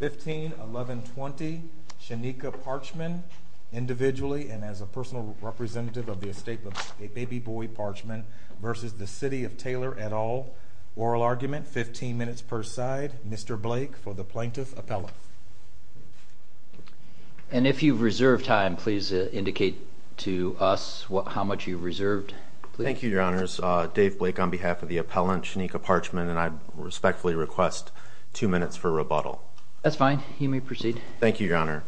15-11-20 Shanika Parchman individually and as a personal representative of the estate of a baby boy Parchman versus the City of Taylor et al. Oral argument 15 minutes per side. Mr. Blake for the plaintiff appellant. And if you've reserved time please indicate to us what how much you've reserved. Thank you your honors. Dave Blake on behalf of the appellant Shanika Parchman and I minutes for rebuttal. That's fine you may proceed. Thank you your honor.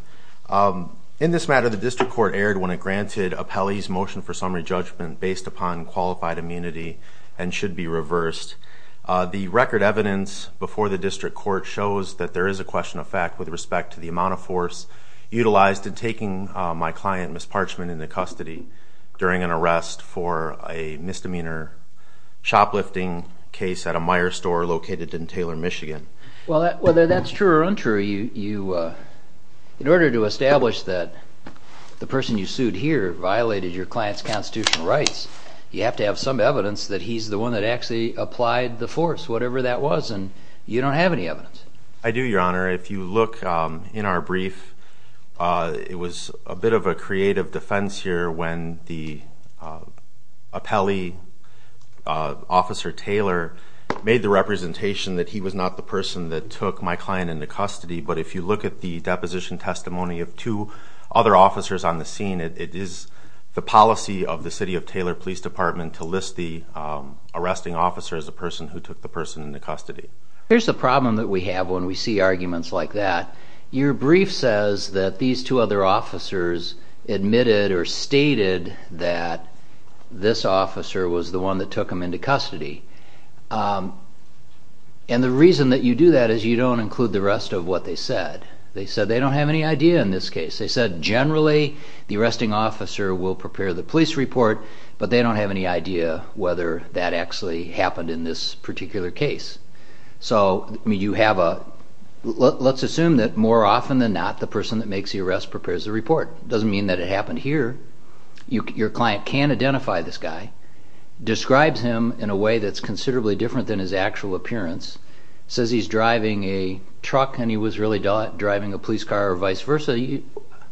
In this matter the district court erred when it granted appellees motion for summary judgment based upon qualified immunity and should be reversed. The record evidence before the district court shows that there is a question of fact with respect to the amount of force utilized in taking my client Ms. Parchman into custody during an arrest for a misdemeanor shoplifting case at a Meyer store located in Taylor Michigan. Well whether that's true or untrue you you in order to establish that the person you sued here violated your client's constitutional rights you have to have some evidence that he's the one that actually applied the force whatever that was and you don't have any evidence. I do your honor if you look in our brief it was a bit of a creative defense here when the appellee officer Taylor made the representation that he was not the person that took my client into custody but if you look at the deposition testimony of two other officers on the scene it is the policy of the city of Taylor Police Department to list the arresting officer as a person who took the person into custody. Here's the problem that we have when we see arguments like that. Your brief says that these two other officers admitted or stated that this officer was the one that took him into custody and the reason that you do that is you don't include the rest of what they said. They said they don't have any idea in this case. They said generally the arresting officer will prepare the police report but they don't have any idea whether that actually happened in this particular case. So you have a let's assume that more often than not the person that makes the arrest prepares the report. Your client can identify this guy, describes him in a way that's considerably different than his actual appearance, says he's driving a truck and he was really not driving a police car or vice versa.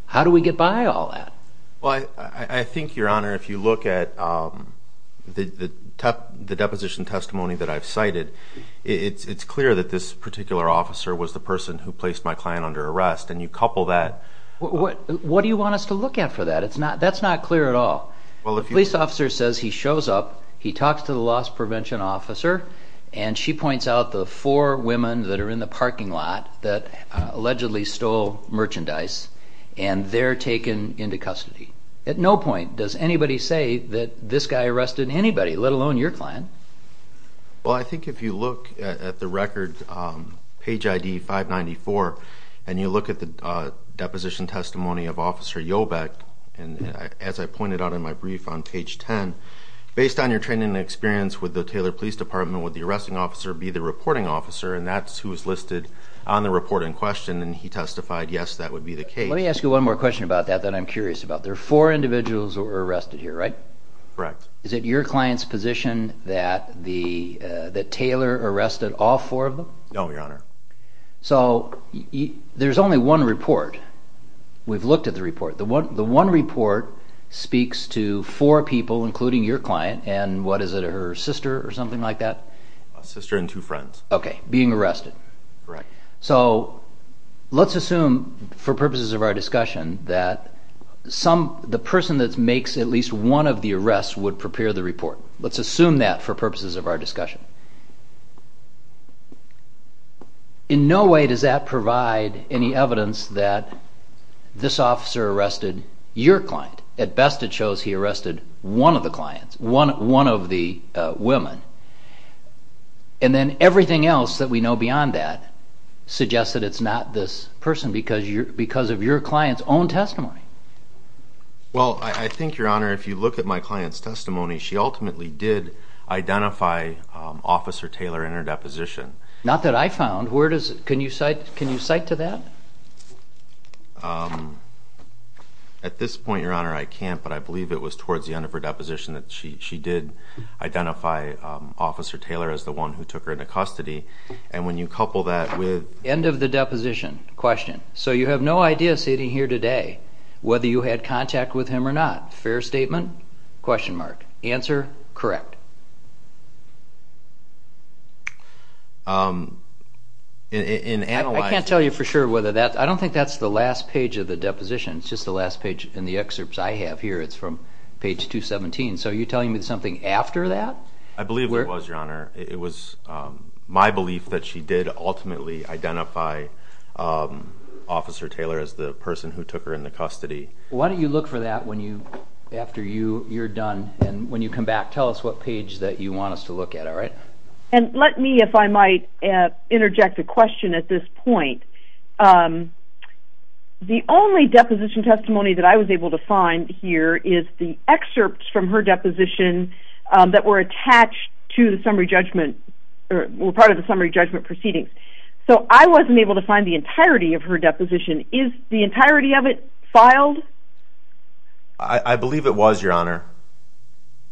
How do we get by all that? Well I think your honor if you look at the deposition testimony that I've cited it's clear that this particular officer was the person who placed my client under arrest and you couple that. What do you want us to look at for that? That's not clear at all. Well if police officer says he shows up he talks to the loss prevention officer and she points out the four women that are in the parking lot that allegedly stole merchandise and they're taken into custody. At no point does anybody say that this guy arrested anybody let alone your client. Well I think if you look at the record page ID 594 and you look at the deposition testimony of officer Jobeck and as I pointed out in my brief on page 10 based on your training and experience with the Taylor Police Department would the arresting officer be the reporting officer and that's who is listed on the report in question and he testified yes that would be the case. Let me ask you one more question about that that I'm curious about. There are four individuals who were arrested here right? Correct. Is it your client's position that the that Taylor arrested all four of them? No your honor. So there's only one report we've looked at the report the one the one report speaks to four people including your client and what is it her sister or something like that? A sister and two friends. Okay being arrested. Right. So let's assume for purposes of our discussion that some the person that makes at least one of the arrests would prepare the report. Let's assume that for purposes of our discussion that this officer arrested your client. At best it shows he arrested one of the clients one one of the women and then everything else that we know beyond that suggests that it's not this person because you're because of your client's own testimony. Well I think your honor if you look at my client's testimony she ultimately did identify officer Taylor in her deposition. Not that I found where does it can you cite can you cite to that? At this point your honor I can't but I believe it was towards the end of her deposition that she did identify officer Taylor as the one who took her into custody and when you couple that with end of the deposition question so you have no idea sitting here today whether you had contact with him or not fair statement? Question mark. Answer correct? I can't tell you for sure whether that I don't think that's the last page of the deposition it's just the last page in the excerpts I have here it's from page 217 so you telling me something after that? I believe it was your honor it was my belief that she did ultimately identify officer Taylor as the person who took her into custody. Why don't you look for that when you after you you're done and when you come back tell us what page that you want us to look at all right? And let me if I might interject a question at this point the only deposition testimony that I was able to find here is the excerpts from her deposition that were attached to the summary judgment or part of the summary judgment proceedings so I wasn't able to I believe it was your honor.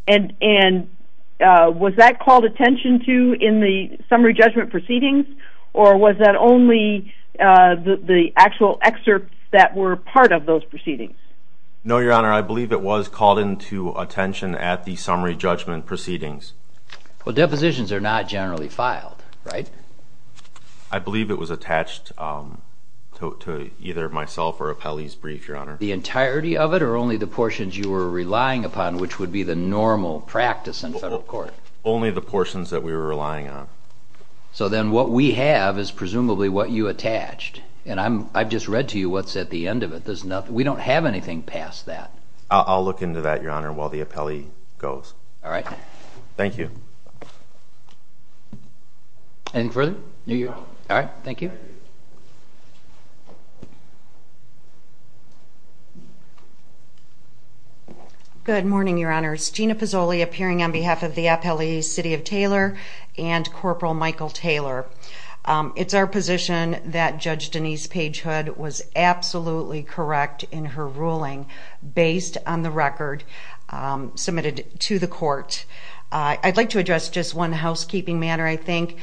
And and was that called attention to in the summary judgment proceedings or was that only the actual excerpts that were part of those proceedings? No your honor I believe it was called into attention at the summary judgment proceedings. Well depositions are not generally filed right? I believe it was attached to either myself or Apelli's brief your entirety of it or only the portions you were relying upon which would be the normal practice in federal court? Only the portions that we were relying on. So then what we have is presumably what you attached and I'm I've just read to you what's at the end of it there's nothing we don't have anything past that. I'll look into that your honor while the Apelli goes. All right. Thank you. Anything further? All right thank you. Good morning your honors. Gina Pizzoli appearing on behalf of the Apelli City of Taylor and Corporal Michael Taylor. It's our position that Judge Denise Pagehood was absolutely correct in her ruling based on the record submitted to the court. I'd like to address just one housekeeping matter I think.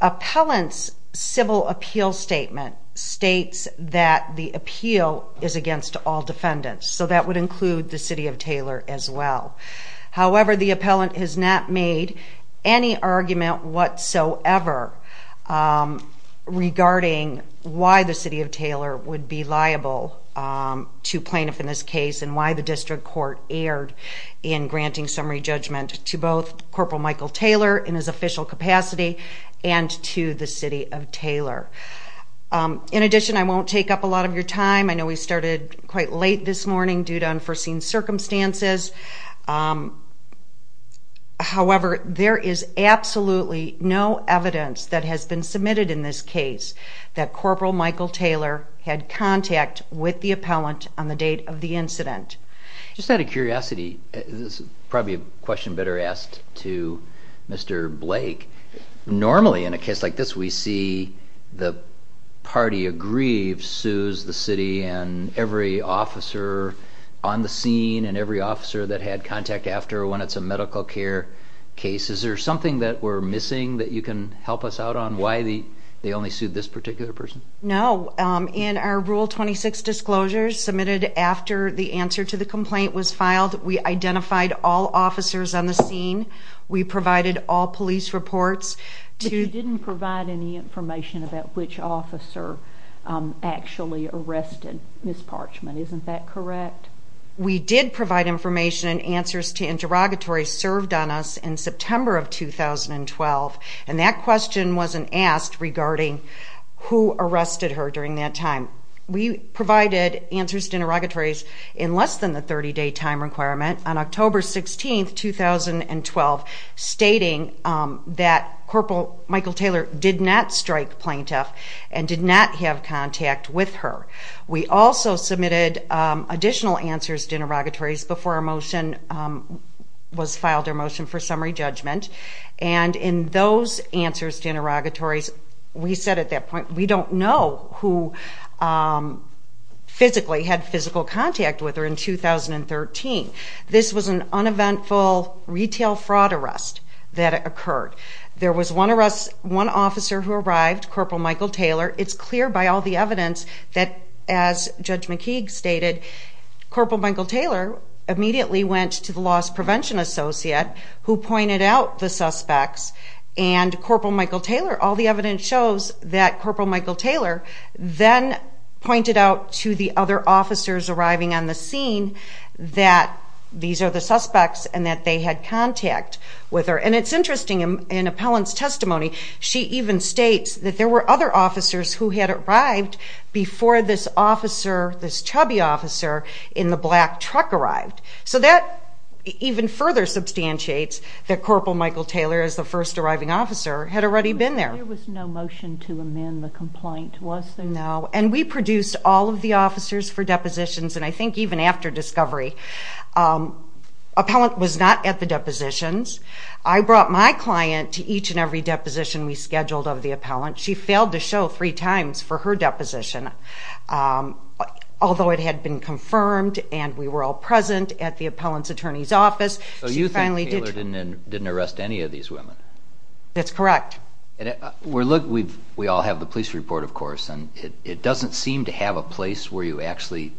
Appellant's civil appeal statement states that the appeal is against all defendants. So that would include the City of Taylor as well. However the appellant has not made any argument whatsoever regarding why the City of Taylor would be liable to plaintiff in this case and why the district court erred in granting summary judgment to both Corporal Michael Taylor in his official capacity and to the City of Taylor. In addition I won't take up a lot of your time I know we started quite late this morning due to unforeseen circumstances. However there is absolutely no evidence that has been submitted in this case that Corporal Michael Taylor had contact with the appellant on the date of the incident. Just out of curiosity this is probably a question better asked to Mr. Blake. Normally in a case like this we see the party aggrieved sues the city and every officer on the scene and every officer that had contact after when it's a medical care case. Is there something that we're missing that you can help us out on why the they only sued this particular person? No in our rule 26 disclosures submitted after the answer to the complaint was filed we identified all officers on the scene we provided all police reports. You didn't provide any information about which officer actually arrested Ms. Parchman isn't that correct? We did provide information and answers to interrogatories served on us in September of 2012 and that question wasn't asked regarding who arrested her during that time. We provided answers to interrogatories in less than the 30 day time requirement on October 16, 2012 stating that Corporal Michael Taylor did not strike plaintiff and did not have contact with her. We also submitted additional answers to interrogatories before our motion was filed, our motion for summary judgment and in those answers to interrogatories we said at that point we don't know who physically had physical contact with her in 2013. This was an uneventful retail fraud arrest that occurred. There was one arrest, one officer who arrived, Corporal Michael Taylor. It's clear by all the evidence that as Judge McKeague stated, Corporal Michael Taylor immediately went to the loss prevention associate who pointed out the suspects and Corporal Michael Taylor, all the evidence shows that Corporal Michael Taylor then pointed out to the other officers arriving on the scene that these are the suspects and that they had contact with her and it's interesting in Appellant's testimony she even states that there were other officers who had arrived before this officer, this chubby officer in the black truck arrived. So that even further substantiates that Corporal Michael Taylor as the first arriving officer had already been there. There was no motion to amend the complaint was there? No, and we produced all of the officers for depositions and I think even after discovery, Appellant was not at the depositions. I brought my client to each and every deposition we scheduled of the Appellant. She failed to show three times for her deposition, although it had been confirmed and we were all present at the Appellant's attorney's office. So you think Taylor didn't arrest any of these women? That's correct. We all have the police report of course and it doesn't seem to have a place where you actually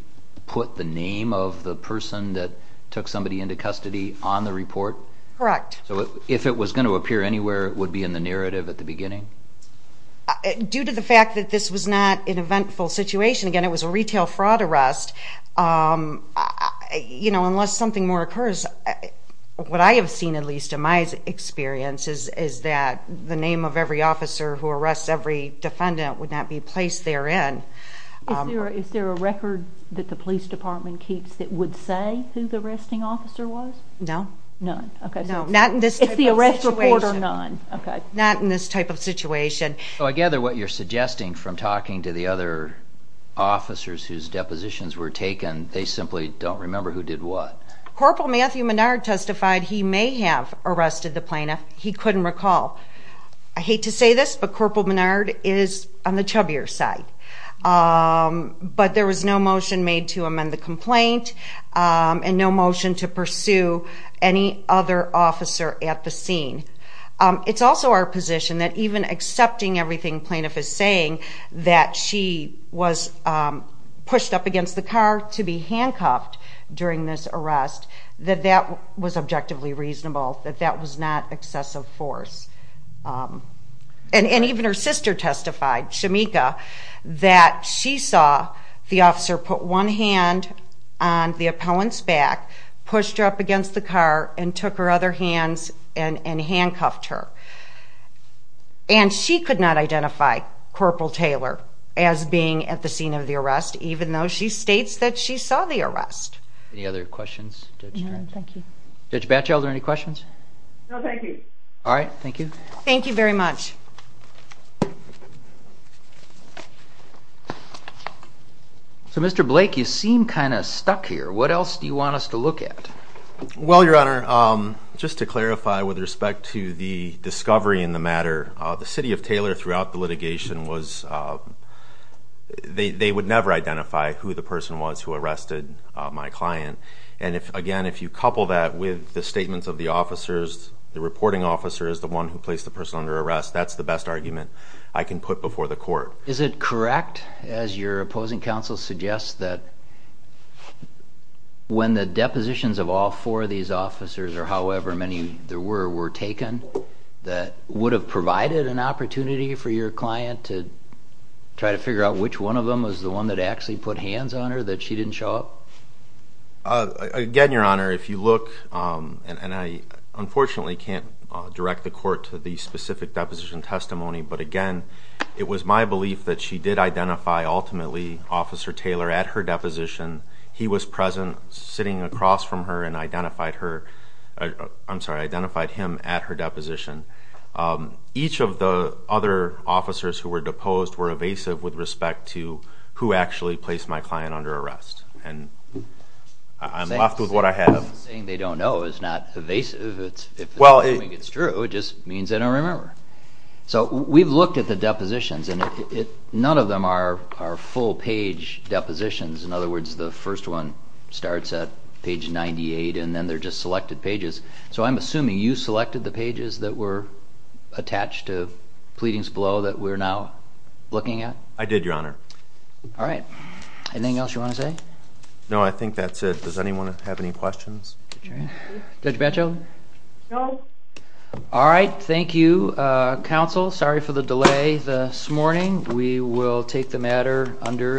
put the name of the person that took somebody into custody on the report? Correct. So if it was going to appear anywhere it would be in the narrative at the beginning? Due to the fact that this was not an eventful situation, again it was a retail fraud arrest, you know is that the name of every officer who arrests every defendant would not be placed therein. Is there a record that the police department keeps that would say who the arresting officer was? No. None? Okay. No, not in this type of situation. Not in this type of situation. So I gather what you're suggesting from talking to the other officers whose depositions were taken, they simply don't remember who did what. Corporal Matthew Menard testified he may have arrested the plaintiff, he couldn't recall. I hate to say this but Corporal Menard is on the chubbier side. But there was no motion made to amend the complaint and no motion to pursue any other officer at the scene. It's also our position that even accepting everything plaintiff is saying, that she was pushed up against the car to be handcuffed during this arrest, that that was objectively reasonable, that that was not excessive force. And even her sister testified, Shamika, that she saw the officer put one hand on the opponent's back, pushed her up against the car and took her other hands and handcuffed her. And she could not identify Corporal Taylor as being at the scene of the arrest even though she any questions? No thank you. All right, thank you. Thank you very much. So Mr. Blake, you seem kind of stuck here. What else do you want us to look at? Well, your honor, just to clarify with respect to the discovery in the matter, the city of Taylor throughout the litigation was... they would never identify who the person was who arrested my client. And again, if you couple that with the statements of the officers, the reporting officer is the one who placed the person under arrest, that's the best argument I can put before the court. Is it correct, as your opposing counsel suggests, that when the depositions of all four of these officers, or however many there were, were taken, that would have provided an opportunity for your client to try to figure out which one of them was the one that actually put hands on her that she didn't show up? Again, your honor, if you look, and I unfortunately can't direct the court to the specific deposition testimony, but again, it was my belief that she did identify ultimately Officer Taylor at her deposition. He was present sitting across from her and identified her... I'm sorry, identified him at her deposition. Each of the other officers who were deposed were evasive with respect to who actually placed my client under arrest. And I'm left with what I have. Saying they don't know is not evasive. If it's true, it just means they don't remember. So we've looked at the depositions and none of them are full-page depositions. In other words, the first one starts at page 98 and then they're just selected pages. So I'm assuming you selected the pages that were attached to pleadings below that we're now looking at? I did, your honor. All right. Anything else you want to say? No, I think that's it. Does anyone have any questions? Judge Batchel? No. All right. Thank you, counsel. Sorry for the delay this morning. We will take the matter under advisement.